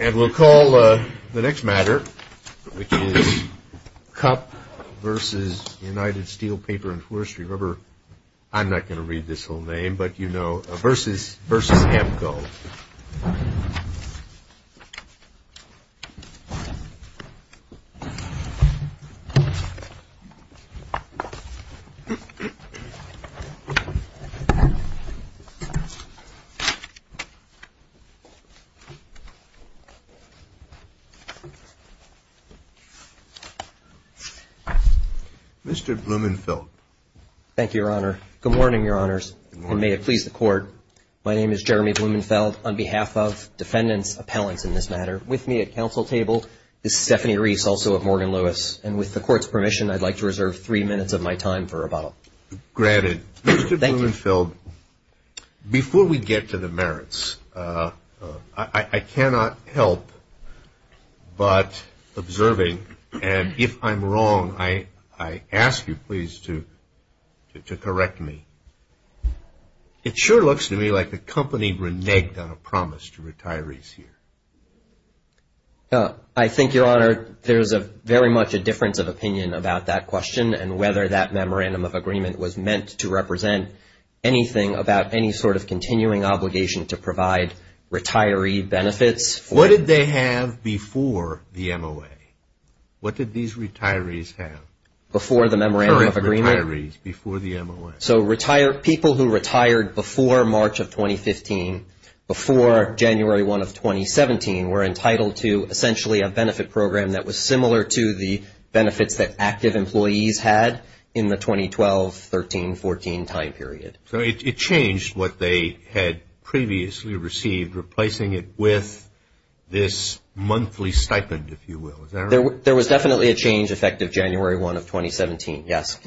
And we'll call the next matter, which is Cup versus United Steel Paper and Forestry Rubber. I'm not going to read this whole name, but you know versus Ampco. Mr. Blumenfeld. Thank you, Your Honor. Good morning, Your Honors. Good morning. And may it please the Court, my name is Jeremy Blumenfeld. On behalf of defendants, appellants in this matter, with me at counsel table is Stephanie Reese, also of Morgan Lewis. And with the Court's permission, I'd like to reserve three minutes of my time for rebuttal. Granted. Thank you. Mr. Blumenfeld, before we get to the merits, I cannot help but observing, and if I'm wrong, I ask you please to correct me. It sure looks to me like the company reneged on a promise to retirees here. I think, Your Honor, there's very much a difference of opinion about that question and whether that memorandum of agreement was meant to represent anything about any sort of continuing obligation to provide retiree benefits. What did they have before the MOA? What did these retirees have? Before the memorandum of agreement? Current retirees before the MOA. So people who retired before March of 2015, before January 1 of 2017, were entitled to essentially a benefit program that was similar to the benefits that active employees had in the 2012-13-14 time period. So it changed what they had previously received, replacing it with this monthly stipend, if you will. There was definitely a change effective January 1 of 2017, yes.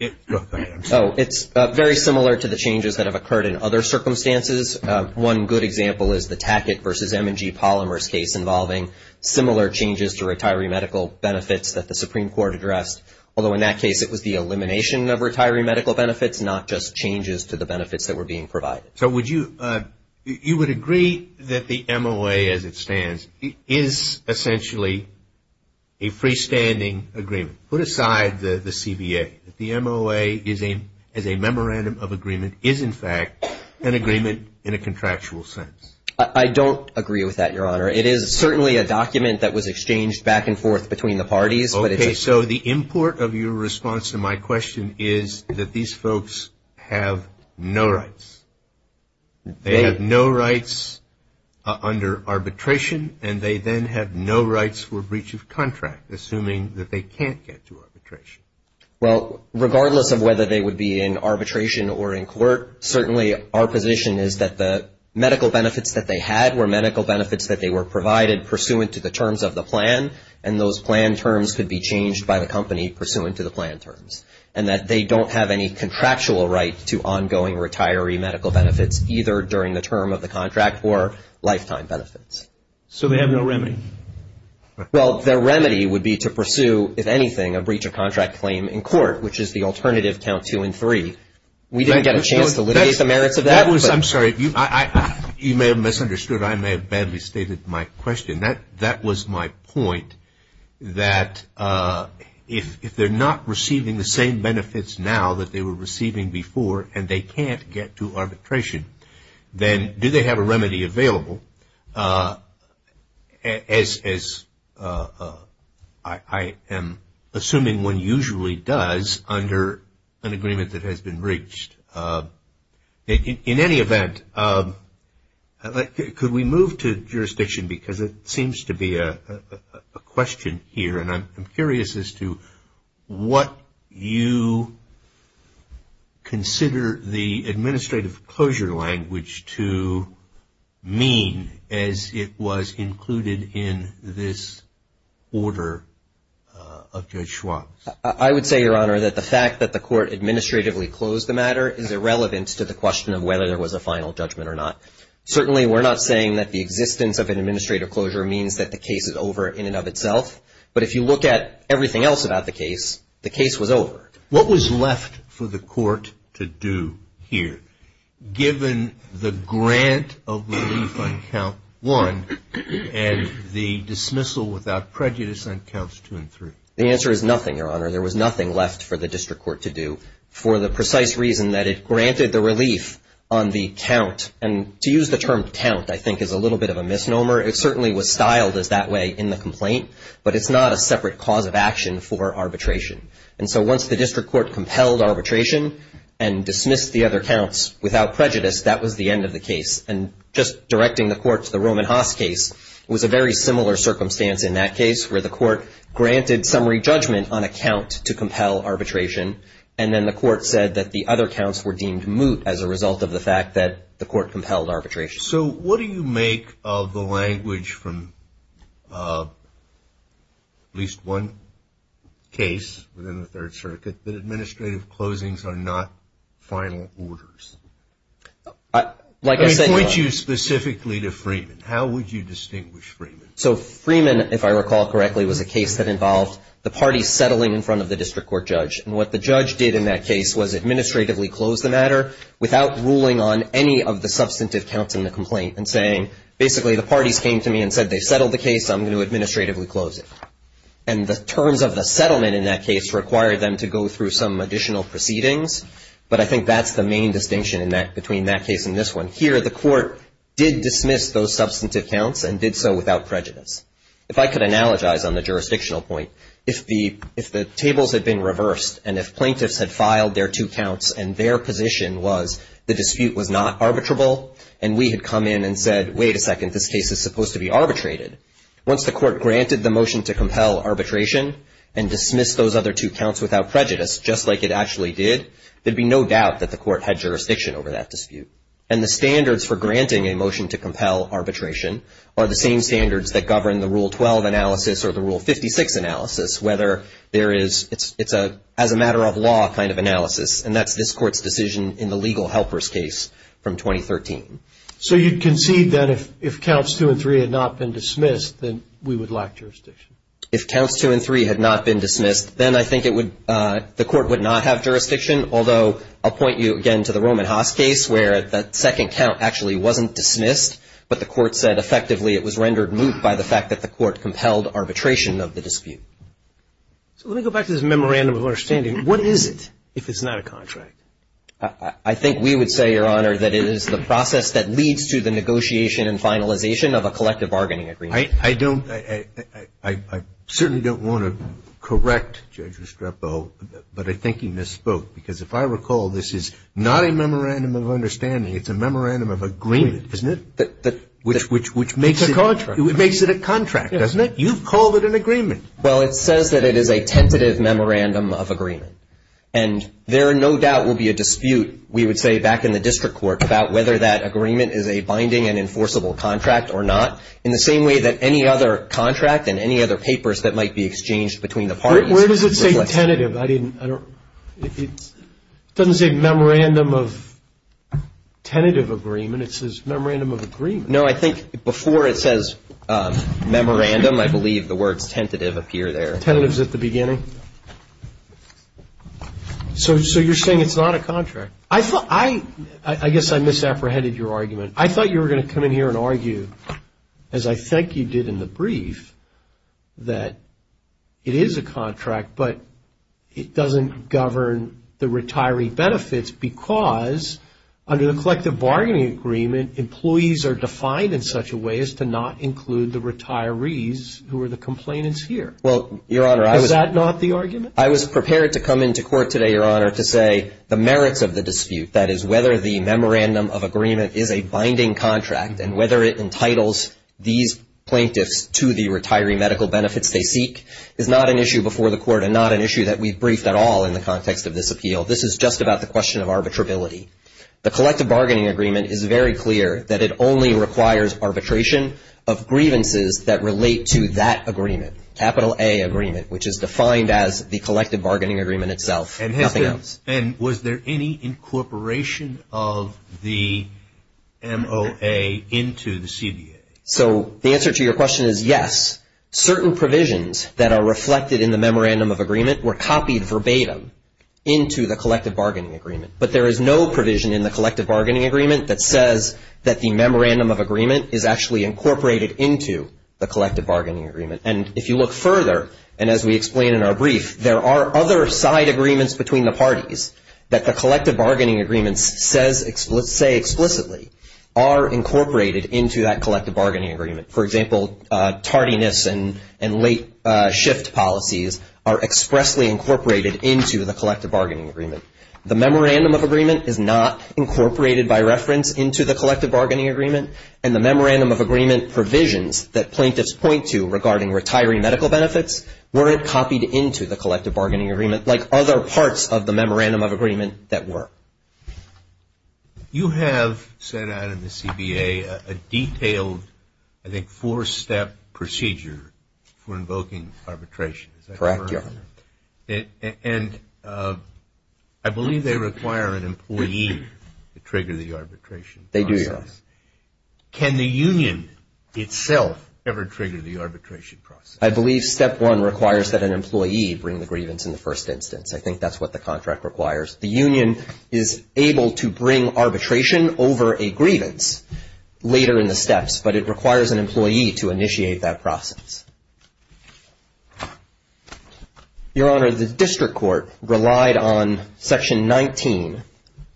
It's very similar to the changes that have occurred in other circumstances. One good example is the Tackett v. M&G Polymers case involving similar changes to retiree medical benefits that the Supreme Court addressed, although in that case it was the elimination of retiree medical benefits, not just changes to the benefits that were being provided. So you would agree that the MOA, as it stands, is essentially a freestanding agreement? Put aside the CBA. The MOA, as a memorandum of agreement, is in fact an agreement in a contractual sense. I don't agree with that, Your Honor. It is certainly a document that was exchanged back and forth between the parties. Okay. So the import of your response to my question is that these folks have no rights. They have no rights under arbitration, and they then have no rights for breach of contract, assuming that they can't get to arbitration. Well, regardless of whether they would be in arbitration or in court, certainly our position is that the medical benefits that they had were medical benefits that they were provided pursuant to the terms of the plan, and those plan terms could be changed by the company pursuant to the plan terms, and that they don't have any contractual right to ongoing retiree medical benefits, either during the term of the contract or lifetime benefits. So they have no remedy? Well, their remedy would be to pursue, if anything, a breach of contract claim in court, which is the alternative count two and three. We didn't get a chance to litigate the merits of that. I'm sorry. You may have misunderstood. I may have badly stated my question. That was my point, that if they're not receiving the same benefits now that they were receiving before and they can't get to arbitration, then do they have a remedy available, as I am assuming one usually does under an agreement that has been breached? In any event, could we move to jurisdiction because it seems to be a question here, and I'm curious as to what you consider the administrative closure language to mean as it was included in this order of Judge Schwab's. I would say, Your Honor, that the fact that the court administratively closed the matter is irrelevant to the question of whether there was a final judgment or not. Certainly we're not saying that the existence of an administrative closure means that the case is over in and of itself, but if you look at everything else about the case, the case was over. What was left for the court to do here, given the grant of relief on count one and the dismissal without prejudice on counts two and three? The answer is nothing, Your Honor. There was nothing left for the district court to do for the precise reason that it granted the relief on the count, and to use the term count I think is a little bit of a misnomer. It certainly was styled as that way in the complaint, but it's not a separate cause of action for arbitration. And so once the district court compelled arbitration and dismissed the other counts without prejudice, that was the end of the case. And just directing the court to the Roman Haas case was a very similar circumstance in that case, where the court granted summary judgment on a count to compel arbitration, and then the court said that the other counts were deemed moot as a result of the fact that the court compelled arbitration. So what do you make of the language from at least one case within the Third Circuit that administrative closings are not final orders? I point you specifically to Freeman. How would you distinguish Freeman? So Freeman, if I recall correctly, was a case that involved the parties settling in front of the district court judge. And what the judge did in that case was administratively close the matter without ruling on any of the substantive counts in the complaint and saying basically the parties came to me and said they settled the case, I'm going to administratively close it. And the terms of the settlement in that case required them to go through some additional proceedings, but I think that's the main distinction between that case and this one. Here the court did dismiss those substantive counts and did so without prejudice. If I could analogize on the jurisdictional point, if the tables had been reversed and if plaintiffs had filed their two counts and their position was the dispute was not arbitrable and we had come in and said, wait a second, this case is supposed to be arbitrated, once the court granted the motion to compel arbitration and dismissed those other two counts without prejudice, just like it actually did, there would be no doubt that the court had jurisdiction over that dispute. And the standards for granting a motion to compel arbitration are the same standards that govern the Rule 12 analysis or the Rule 56 analysis, whether there is, it's a as a matter of law kind of analysis, and that's this court's decision in the legal helper's case from 2013. So you'd concede that if counts two and three had not been dismissed, then we would lack jurisdiction? If counts two and three had not been dismissed, then I think it would, the court would not have jurisdiction, although I'll point you again to the Roman Haas case where the second count actually wasn't dismissed, but the court said effectively it was rendered moot by the fact that the court compelled arbitration of the dispute. So let me go back to this memorandum of understanding. What is it if it's not a contract? I think we would say, Your Honor, that it is the process that leads to the negotiation and finalization of a collective bargaining agreement. I don't, I certainly don't want to correct Judge Restrepo, but I think he misspoke. Because if I recall, this is not a memorandum of understanding. It's a memorandum of agreement, isn't it? Which makes it a contract, doesn't it? You've called it an agreement. Well, it says that it is a tentative memorandum of agreement. And there no doubt will be a dispute, we would say back in the district court, about whether that agreement is a binding and enforceable contract or not, in the same way that any other contract and any other papers that might be exchanged between the parties. Where does it say tentative? I didn't, I don't, it doesn't say memorandum of tentative agreement. It says memorandum of agreement. No, I think before it says memorandum, I believe the words tentative appear there. Tentative's at the beginning. So you're saying it's not a contract. I thought, I guess I misapprehended your argument. I thought you were going to come in here and argue, as I think you did in the brief, that it is a contract, but it doesn't govern the retiree benefits because, under the collective bargaining agreement, employees are defined in such a way as to not include the retirees who are the complainants here. Well, Your Honor, I was. Is that not the argument? I was prepared to come into court today, Your Honor, to say the merits of the dispute, that is whether the memorandum of agreement is a binding contract and whether it entitles these plaintiffs to the retiree medical benefits they seek, is not an issue before the court and not an issue that we've briefed at all in the context of this appeal. This is just about the question of arbitrability. The collective bargaining agreement is very clear that it only requires arbitration of grievances that relate to that agreement, capital A agreement, which is defined as the collective bargaining agreement itself, nothing else. And was there any incorporation of the MOA into the CBA? So the answer to your question is yes. Certain provisions that are reflected in the memorandum of agreement were copied verbatim into the collective bargaining agreement, but there is no provision in the collective bargaining agreement that says that the memorandum of agreement is actually incorporated into the collective bargaining agreement. And if you look further, and as we explain in our brief, there are other side agreements between the parties that the collective bargaining agreement says explicitly are incorporated into that collective bargaining agreement. For example, tardiness and late shift policies are expressly incorporated into the collective bargaining agreement. The memorandum of agreement is not incorporated by reference into the collective bargaining agreement, and the memorandum of agreement provisions that plaintiffs point to regarding retiree medical benefits weren't copied into the collective bargaining agreement like other parts of the memorandum of agreement that were. You have set out in the CBA a detailed, I think, four-step procedure for invoking arbitration. Is that correct? Correct, Your Honor. And I believe they require an employee to trigger the arbitration process. They do, Your Honor. Can the union itself ever trigger the arbitration process? I believe step one requires that an employee bring the grievance in the first instance. I think that's what the contract requires. The union is able to bring arbitration over a grievance later in the steps, but it requires an employee to initiate that process. Your Honor, the district court relied on Section 19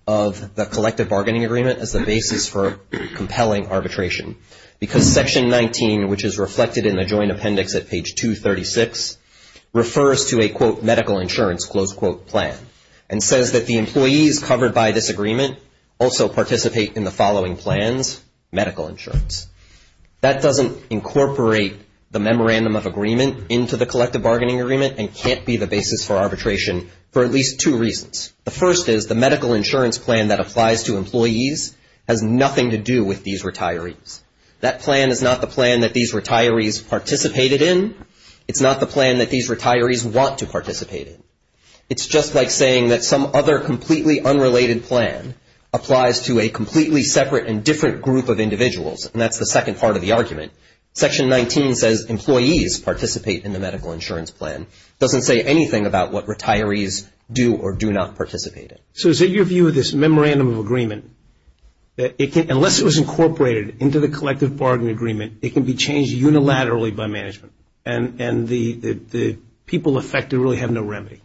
of the collective bargaining agreement as the basis for compelling arbitration because Section 19, which is reflected in the joint appendix at page 236, refers to a, quote, medical insurance, close quote, plan, and says that the employees covered by this agreement also participate in the following plans, medical insurance. That doesn't incorporate the memorandum of agreement into the collective bargaining agreement and can't be the basis for arbitration for at least two reasons. The first is the medical insurance plan that applies to employees has nothing to do with these retirees. That plan is not the plan that these retirees participated in. It's not the plan that these retirees want to participate in. It's just like saying that some other completely unrelated plan applies to a completely separate and different group of individuals, and that's the second part of the argument. Section 19 says employees participate in the medical insurance plan. It doesn't say anything about what retirees do or do not participate in. So is it your view that this memorandum of agreement, unless it was incorporated into the collective bargaining agreement, it can be changed unilaterally by management, and the people affected really have no remedy?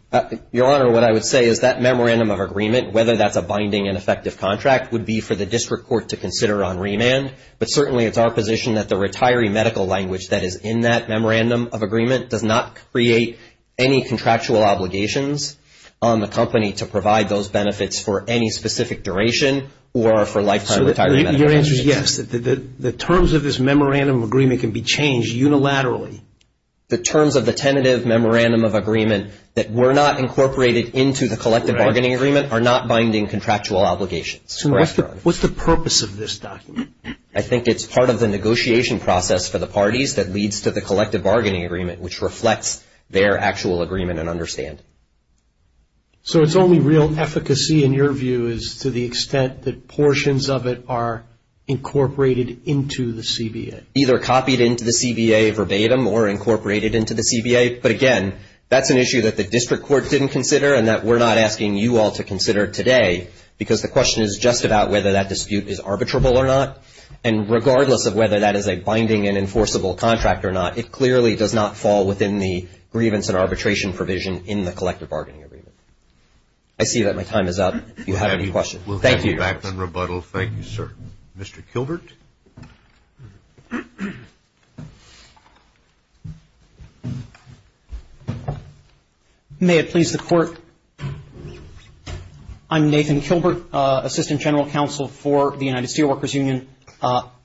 Your Honor, what I would say is that memorandum of agreement, whether that's a binding and effective contract would be for the district court to consider on remand, but certainly it's our position that the retiree medical language that is in that memorandum of agreement does not create any contractual obligations on the company to provide those benefits for any specific duration or for lifetime retirement. Your answer is yes. The terms of this memorandum of agreement can be changed unilaterally. The terms of the tentative memorandum of agreement that were not incorporated into the collective bargaining agreement are not binding contractual obligations. So what's the purpose of this document? I think it's part of the negotiation process for the parties that leads to the collective bargaining agreement, which reflects their actual agreement and understand. So it's only real efficacy in your view is to the extent that portions of it are incorporated into the CBA? Either copied into the CBA verbatim or incorporated into the CBA, but again, that's an issue that the district court didn't consider and that we're not asking you all to consider today, because the question is just about whether that dispute is arbitrable or not, and regardless of whether that is a binding and enforceable contract or not, it clearly does not fall within the grievance and arbitration provision in the collective bargaining agreement. I see that my time is up. If you have any questions. Thank you. We'll have you back in rebuttal. Thank you, sir. Mr. Kilbert. May it please the Court. I'm Nathan Kilbert, Assistant General Counsel for the United Steelworkers Union,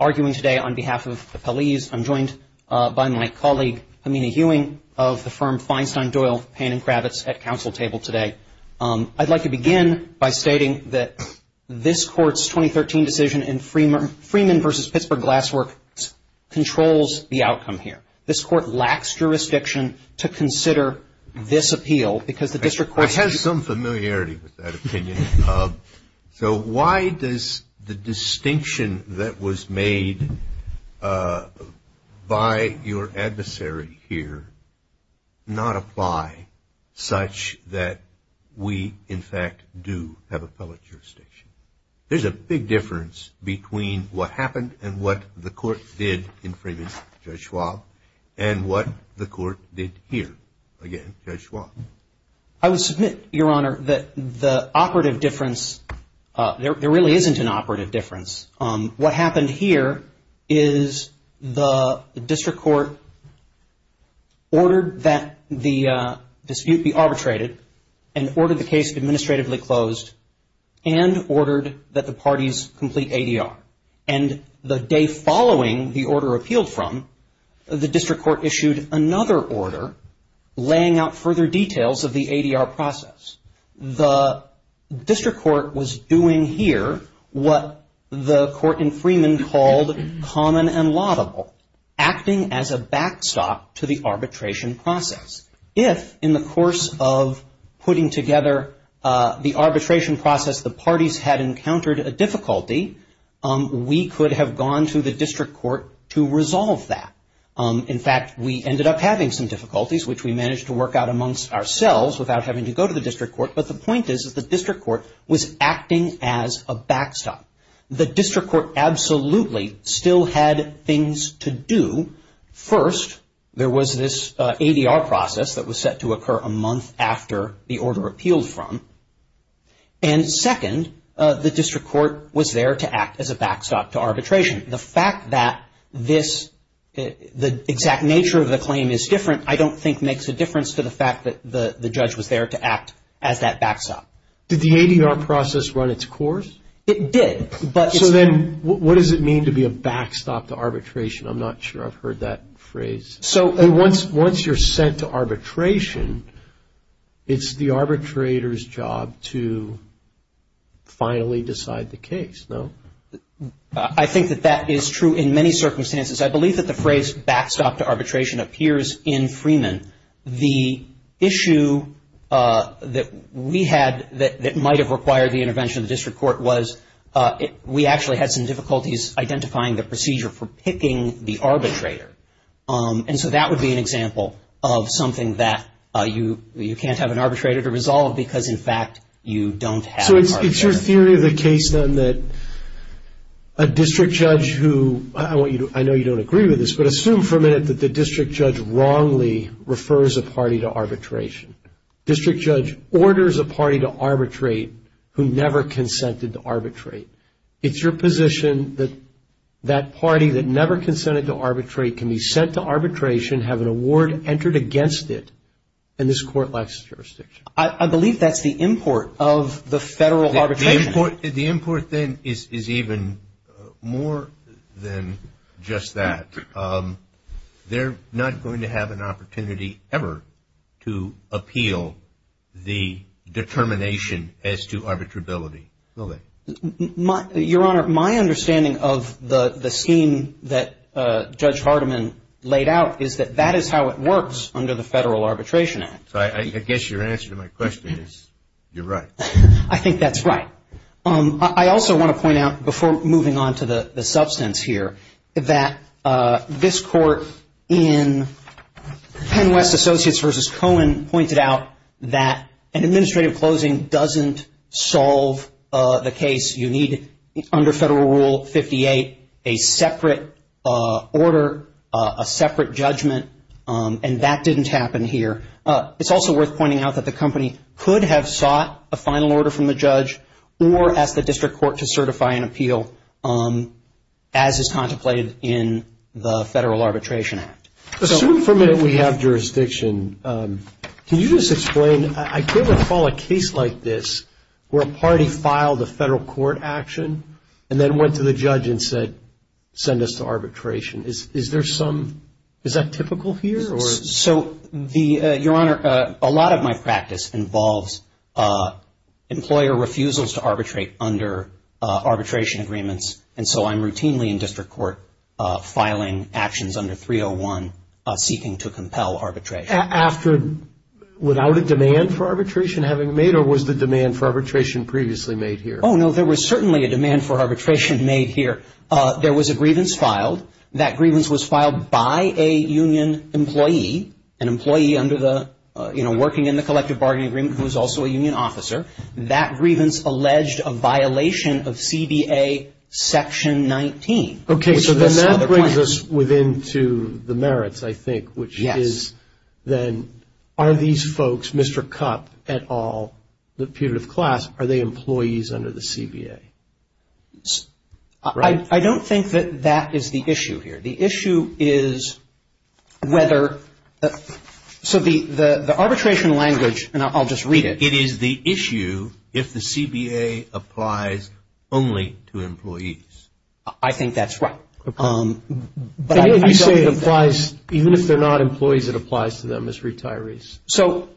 arguing today on behalf of the police. I'm joined by my colleague, Hamina Hewing, of the firm Feinstein, Doyle, Payne & Kravitz at counsel table today. I'd like to begin by stating that this Court's 2013 decision in Freeman v. Pittsburgh Glassworks controls the outcome here. This Court lacks jurisdiction to consider this appeal because the district court. I have some familiarity with that opinion. So why does the distinction that was made by your adversary here not apply such that we, in fact, do have appellate jurisdiction? There's a big difference between what happened and what the Court did in Freeman v. Judge Schwab and what the Court did here. Again, Judge Schwab. I would submit, Your Honor, that the operative difference, there really isn't an operative difference. What happened here is the district court ordered that the dispute be arbitrated and ordered the case administratively closed and ordered that the parties complete ADR. And the day following the order appealed from, the district court issued another order laying out further details of the ADR process. The district court was doing here what the court in Freeman called common and laudable, acting as a backstop to the arbitration process. If, in the course of putting together the arbitration process, the parties had encountered a difficulty, we could have gone to the district court to resolve that. In fact, we ended up having some difficulties, which we managed to work out amongst ourselves without having to go to the district court. But the point is that the district court was acting as a backstop. The district court absolutely still had things to do. First, there was this ADR process that was set to occur a month after the order appealed from. And second, the district court was there to act as a backstop to arbitration. The fact that this, the exact nature of the claim is different, I don't think makes a difference to the fact that the judge was there to act as that backstop. Did the ADR process run its course? It did. So then what does it mean to be a backstop to arbitration? I'm not sure I've heard that phrase. So once you're sent to arbitration, it's the arbitrator's job to finally decide the case, no? I think that that is true in many circumstances. I believe that the phrase backstop to arbitration appears in Freeman. The issue that we had that might have required the intervention of the district court was we actually had some difficulties identifying the procedure for picking the arbitrator. And so that would be an example of something that you can't have an arbitrator to resolve because, in fact, you don't have an arbitrator. So it's your theory of the case, then, that a district judge who, I know you don't agree with this, but assume for a minute that the district judge wrongly refers a party to arbitration. District judge orders a party to arbitrate who never consented to arbitrate. It's your position that that party that never consented to arbitrate can be sent to arbitration, have an award entered against it, and this court lacks jurisdiction. I believe that's the import of the federal arbitration. The import, then, is even more than just that. They're not going to have an opportunity ever to appeal the determination as to arbitrability, will they? Your Honor, my understanding of the scheme that Judge Hardiman laid out is that that is how it works under the Federal Arbitration Act. I guess your answer to my question is you're right. I think that's right. I also want to point out, before moving on to the substance here, that this court in PennWest Associates v. Cohen pointed out that an administrative closing doesn't solve the case. You need, under Federal Rule 58, a separate order, a separate judgment, and that didn't happen here. It's also worth pointing out that the company could have sought a final order from the judge or asked the district court to certify an appeal as is contemplated in the Federal Arbitration Act. Assuming for a minute we have jurisdiction, can you just explain, I can't recall a case like this where a party filed a federal court action and then went to the judge and said, send us to arbitration. Is there some, is that typical here? So, Your Honor, a lot of my practice involves employer refusals to arbitrate under arbitration agreements, and so I'm routinely in district court filing actions under 301 seeking to compel arbitration. After, without a demand for arbitration having made, or was the demand for arbitration previously made here? Oh, no, there was certainly a demand for arbitration made here. There was a grievance filed. That grievance was filed by a union employee, an employee under the, you know, working in the collective bargaining agreement who was also a union officer. That grievance alleged a violation of CBA Section 19. Okay, so then that brings us within to the merits, I think, which is then, are these folks, Mr. Cupp et al., the putative class, are they employees under the CBA? Right. I don't think that that is the issue here. The issue is whether, so the arbitration language, and I'll just read it. It is the issue if the CBA applies only to employees. I think that's right. Even if you say it applies, even if they're not employees, it applies to them as retirees. So,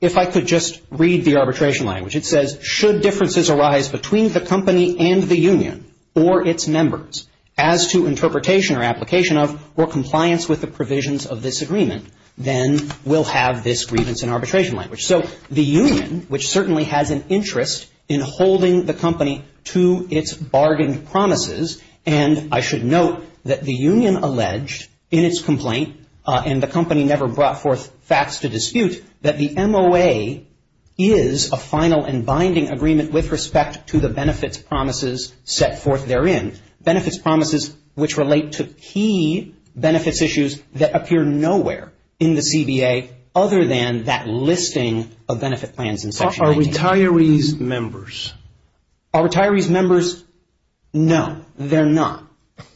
if I could just read the arbitration language. It says, should differences arise between the company and the union or its members as to interpretation or application of or compliance with the provisions of this agreement, then we'll have this grievance and arbitration language. So the union, which certainly has an interest in holding the company to its bargained promises, and I should note that the union alleged in its complaint, and the company never brought forth facts to dispute, that the MOA is a final and binding agreement with respect to the benefits promises set forth therein, benefits promises which relate to key benefits issues that appear nowhere in the CBA other than that listing of benefit plans in Section 19. Are retirees members? Are retirees members? No, they're not.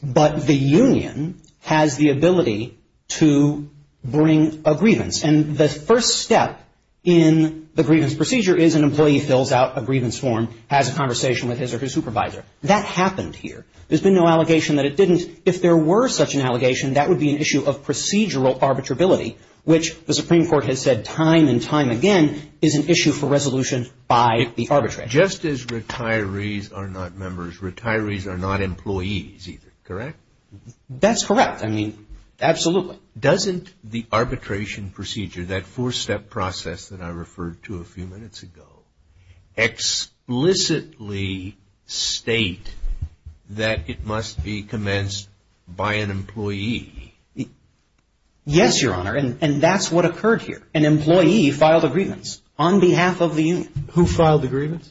But the union has the ability to bring a grievance. And the first step in the grievance procedure is an employee fills out a grievance form, has a conversation with his or her supervisor. That happened here. There's been no allegation that it didn't. If there were such an allegation, that would be an issue of procedural arbitrability, which the Supreme Court has said time and time again is an issue for resolution by the arbitrator. And just as retirees are not members, retirees are not employees either, correct? That's correct. I mean, absolutely. Doesn't the arbitration procedure, that four-step process that I referred to a few minutes ago, explicitly state that it must be commenced by an employee? Yes, Your Honor, and that's what occurred here. An employee filed a grievance on behalf of the union. Who filed the grievance?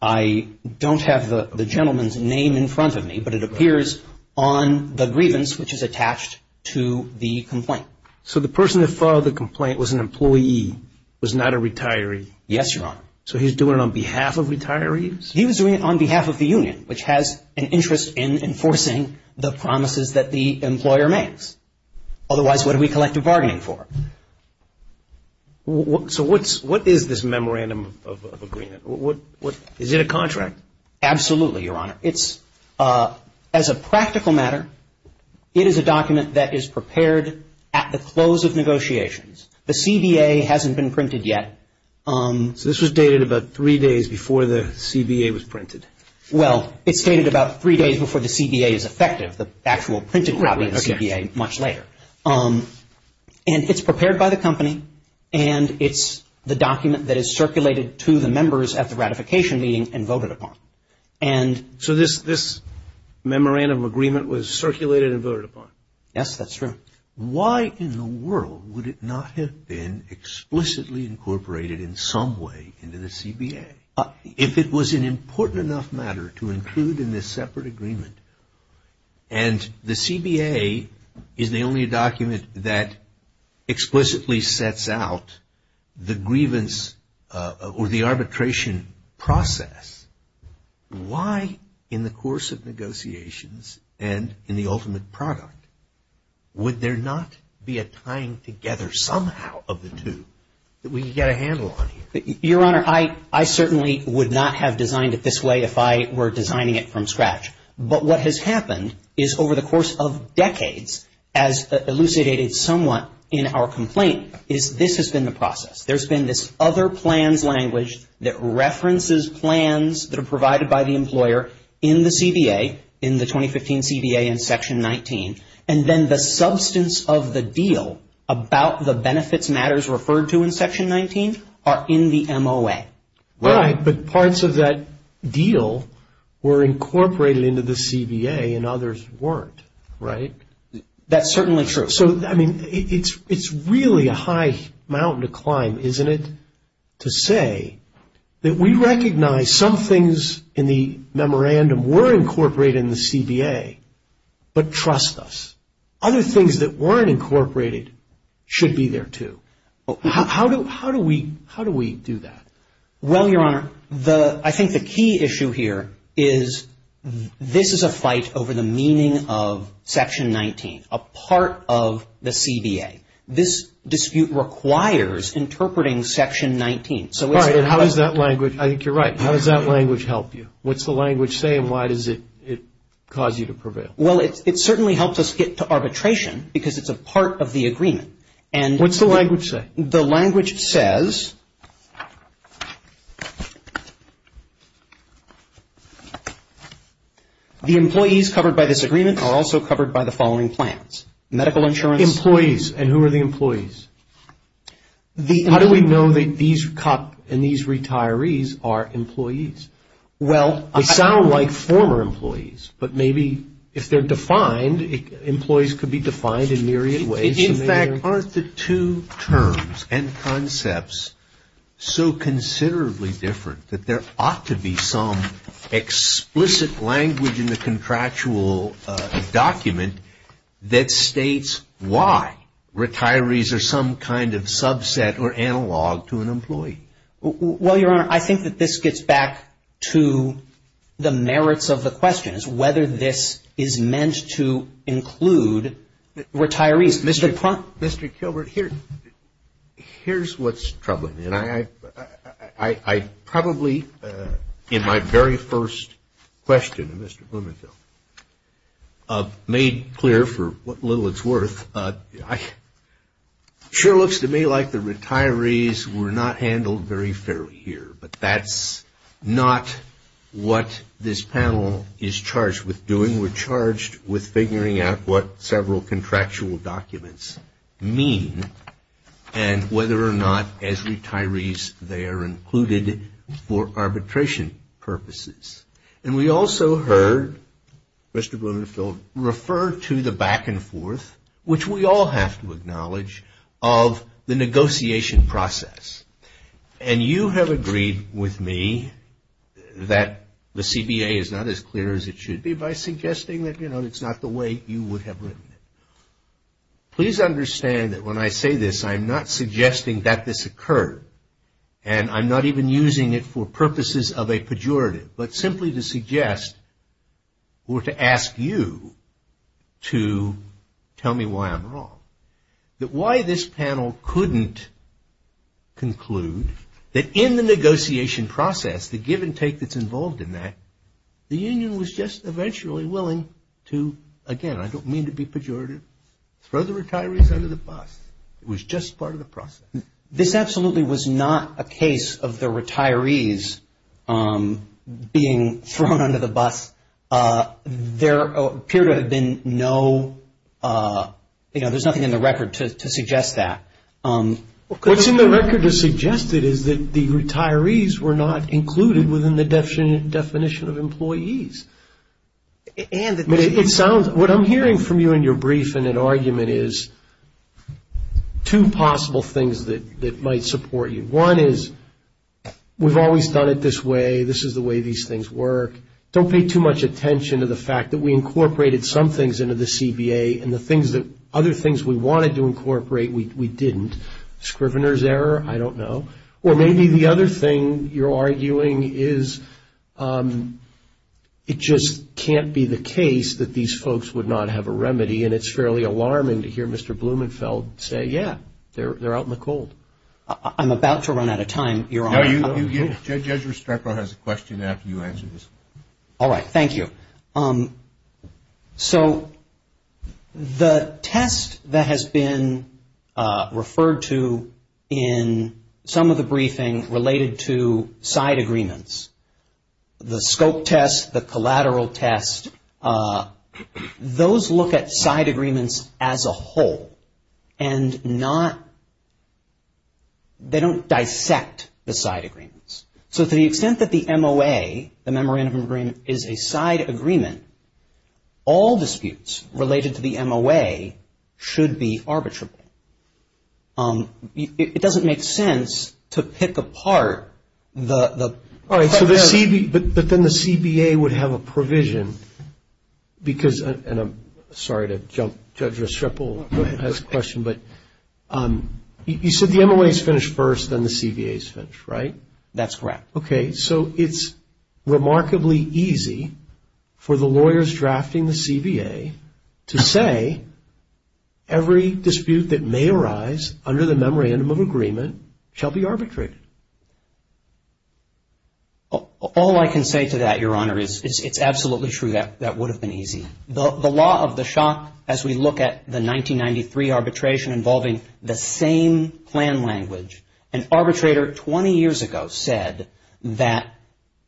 I don't have the gentleman's name in front of me, but it appears on the grievance which is attached to the complaint. So the person that filed the complaint was an employee, was not a retiree? Yes, Your Honor. So he was doing it on behalf of retirees? He was doing it on behalf of the union, which has an interest in enforcing the promises that the employer makes. Otherwise, what do we collect a bargaining for? So what is this memorandum of agreement? Is it a contract? Absolutely, Your Honor. As a practical matter, it is a document that is prepared at the close of negotiations. The CBA hasn't been printed yet. So this was dated about three days before the CBA was printed? Well, it's dated about three days before the CBA is effective, the actual printed copy of the CBA much later. And it's prepared by the company, and it's the document that is circulated to the members at the ratification meeting and voted upon. So this memorandum of agreement was circulated and voted upon? Yes, that's true. Why in the world would it not have been explicitly incorporated in some way into the CBA? If it was an important enough matter to include in this separate agreement and the CBA is the only document that explicitly sets out the grievance or the arbitration process, why in the course of negotiations and in the ultimate product, would there not be a tying together somehow of the two that we could get a handle on here? Your Honor, I certainly would not have designed it this way if I were designing it from scratch. But what has happened is over the course of decades, as elucidated somewhat in our complaint, is this has been the process. There's been this other plans language that references plans that are provided by the employer in the CBA, in the 2015 CBA in Section 19, and then the substance of the deal about the benefits matters referred to in Section 19 are in the MOA. Right, but parts of that deal were incorporated into the CBA and others weren't, right? That's certainly true. So, I mean, it's really a high mountain to climb, isn't it, to say that we recognize some things in the memorandum were incorporated in the CBA, but trust us. Other things that weren't incorporated should be there too. How do we do that? Well, Your Honor, I think the key issue here is this is a fight over the meaning of Section 19, a part of the CBA. This dispute requires interpreting Section 19. All right, and how does that language, I think you're right, how does that language help you? What's the language say and why does it cause you to prevail? Well, it certainly helps us get to arbitration because it's a part of the agreement. What's the language say? The language says the employees covered by this agreement are also covered by the following plans. Medical insurance. Employees, and who are the employees? How do we know that these retirees are employees? Well, they sound like former employees, but maybe if they're defined, employees could be defined in myriad ways. In fact, aren't the two terms and concepts so considerably different that there ought to be some explicit language in the contractual document that states why retirees are some kind of subset or analog to an employee? Well, Your Honor, I think that this gets back to the merits of the question is whether this is meant to include retirees. Mr. Kilbert, here's what's troubling me. And I probably in my very first question to Mr. Blumenthal made clear for what little it's worth, it sure looks to me like the retirees were not handled very fairly here, but that's not what this panel is charged with doing. We're charged with figuring out what several contractual documents mean and whether or not as retirees they are included for arbitration purposes. And we also heard Mr. Blumenthal refer to the back and forth, which we all have to acknowledge, of the negotiation process. And you have agreed with me that the CBA is not as clear as it should be by suggesting that, you know, it's not the way you would have written it. Please understand that when I say this, I'm not suggesting that this occurred. And I'm not even using it for purposes of a pejorative, but simply to suggest or to ask you to tell me why I'm wrong. That why this panel couldn't conclude that in the negotiation process, the give and take that's involved in that, the union was just eventually willing to, again, I don't mean to be pejorative, throw the retirees under the bus. It was just part of the process. This absolutely was not a case of the retirees being thrown under the bus. There appear to have been no, you know, there's nothing in the record to suggest that. What's in the record to suggest it is that the retirees were not included within the definition of employees. What I'm hearing from you in your brief and in argument is two possible things that might support you. One is we've always done it this way. This is the way these things work. Don't pay too much attention to the fact that we incorporated some things into the CBA and the other things we wanted to incorporate we didn't. Scrivener's error? I don't know. Or maybe the other thing you're arguing is it just can't be the case that these folks would not have a remedy and it's fairly alarming to hear Mr. Blumenfeld say, yeah, they're out in the cold. I'm about to run out of time, Your Honor. Judge Restrepo has a question after you answer this. All right. Thank you. So the test that has been referred to in some of the briefings related to side agreements, the scope test, the collateral test, those look at side agreements as a whole and not, they don't dissect the side agreements. So to the extent that the MOA, the memorandum of agreement, is a side agreement, all disputes related to the MOA should be arbitrable. It doesn't make sense to pick apart the... All right. But then the CBA would have a provision because, and I'm sorry to jump, Judge Restrepo has a question, but you said the MOA is finished first, then the CBA is finished, right? That's correct. Okay. So it's remarkably easy for the lawyers drafting the CBA to say every dispute that may arise under the memorandum of agreement shall be arbitrated. All I can say to that, Your Honor, is it's absolutely true that that would have been easy. The law of the shock, as we look at the 1993 arbitration involving the same plan language, an arbitrator 20 years ago said that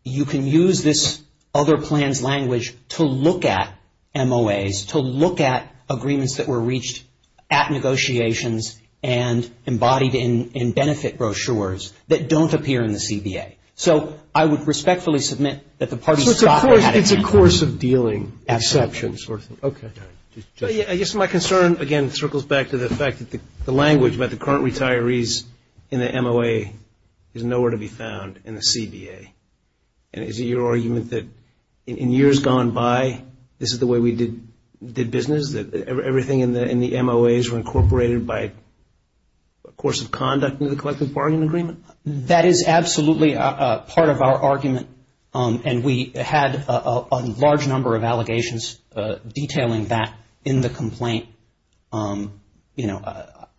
you can use this other plan's language to look at MOAs, to look at agreements that were reached at negotiations and embodied in benefit brochures that don't appear in the CBA. So I would respectfully submit that the parties... So it's a course of dealing. Absolutely. Exceptions sort of thing. Okay. I guess my concern, again, circles back to the fact that the language about the current retirees in the MOA is nowhere to be found in the CBA. And is it your argument that in years gone by, this is the way we did business, that everything in the MOAs were incorporated by course of conduct in the collective bargaining agreement? That is absolutely part of our argument. And we had a large number of allegations detailing that in the complaint. You know,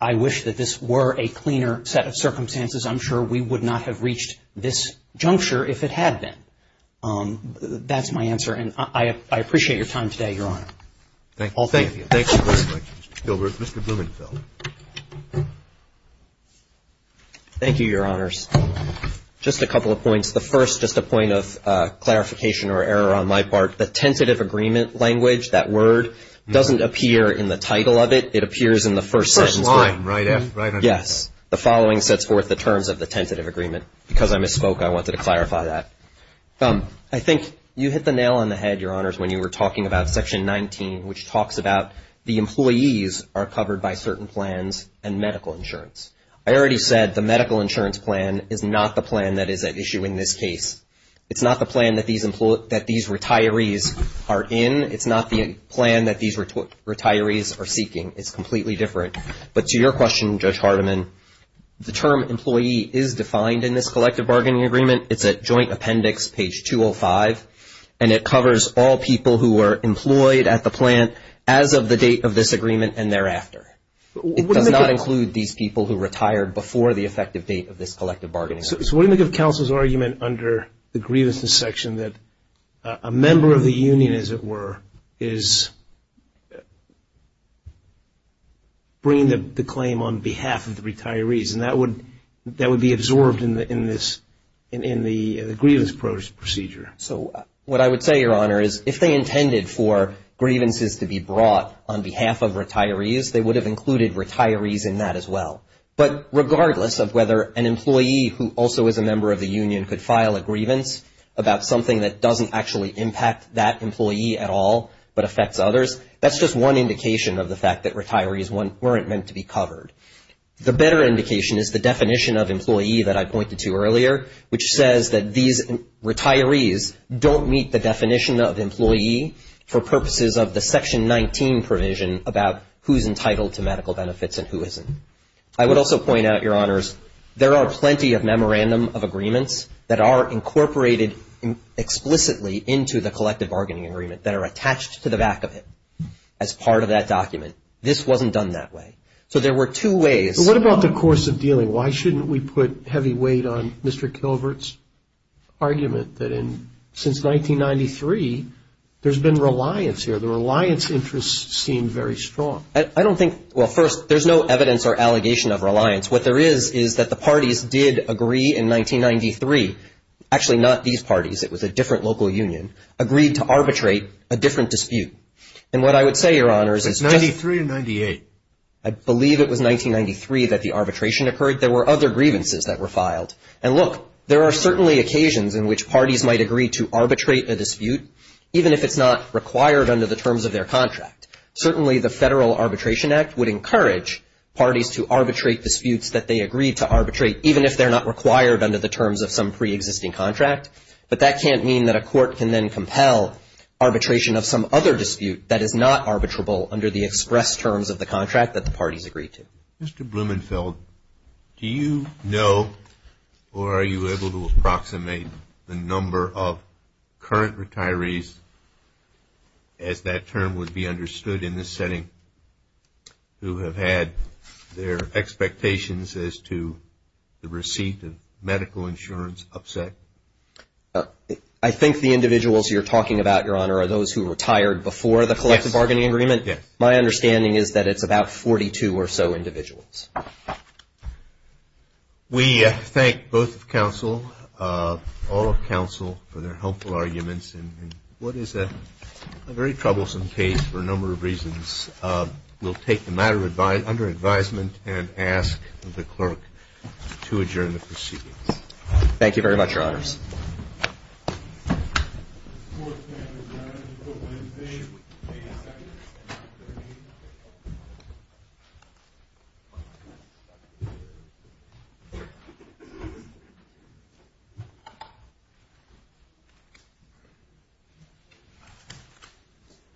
I wish that this were a cleaner set of circumstances. I'm sure we would not have reached this juncture if it had been. That's my answer. And I appreciate your time today, Your Honor. Thank you. Thank you very much, Mr. Gilbert. Mr. Blumenfeld. Thank you, Your Honors. Just a couple of points. The first, just a point of clarification or error on my part, the tentative agreement language, that word, doesn't appear in the title of it. It appears in the first sentence. The first line, right? Yes. The following sets forth the terms of the tentative agreement. Because I misspoke, I wanted to clarify that. I think you hit the nail on the head, Your Honors, when you were talking about Section 19, which talks about the employees are covered by certain plans and medical insurance. I already said the medical insurance plan is not the plan that is at issue in this case. It's not the plan that these retirees are in. It's not the plan that these retirees are seeking. It's completely different. But to your question, Judge Hardiman, the term employee is defined in this collective bargaining agreement. It's at Joint Appendix, page 205. And it covers all people who are employed at the plant as of the date of this agreement and thereafter. It does not include these people who retired before the effective date of this collective bargaining agreement. So what do you make of counsel's argument under the grievances section that a member of the union, as it were, is bringing the claim on behalf of the retirees? And that would be absorbed in the grievance procedure. So what I would say, Your Honor, is if they intended for grievances to be brought on behalf of retirees, they would have included retirees in that as well. But regardless of whether an employee who also is a member of the union could file a grievance about something that doesn't actually impact that employee at all but affects others, that's just one indication of the fact that retirees weren't meant to be covered. The better indication is the definition of employee that I pointed to earlier, which says that these retirees don't meet the definition of employee for purposes of the Section 19 provision about who's entitled to medical benefits and who isn't. I would also point out, Your Honors, there are plenty of memorandum of agreements that are incorporated explicitly into the collective bargaining agreement that are attached to the back of it as part of that document. This wasn't done that way. So there were two ways. What about the course of dealing? Why shouldn't we put heavy weight on Mr. Kilvert's argument that since 1993, there's been reliance here? The reliance interests seem very strong. I don't think – well, first, there's no evidence or allegation of reliance. What there is is that the parties did agree in 1993 – actually, not these parties, it was a different local union – agreed to arbitrate a different dispute. And what I would say, Your Honors, is just – Was it 93 or 98? I believe it was 1993 that the arbitration occurred. There were other grievances that were filed. And look, there are certainly occasions in which parties might agree to arbitrate a dispute, even if it's not required under the terms of their contract. Certainly, the Federal Arbitration Act would encourage parties to arbitrate disputes that they agreed to arbitrate, even if they're not required under the terms of some preexisting contract. But that can't mean that a court can then compel arbitration of some other dispute that is not arbitrable under the express terms of the contract that the parties agreed to. Mr. Blumenfeld, do you know or are you able to approximate the number of current retirees, as that term would be understood in this setting, who have had their expectations as to the receipt of medical insurance upset? Yes. My understanding is that it's about 42 or so individuals. We thank both of counsel, all of counsel, for their helpful arguments. And what is a very troublesome case for a number of reasons. We'll take the matter under advisement and ask the clerk to adjourn the proceedings. Thank you very much, Your Honors. Thank you, Your Honors.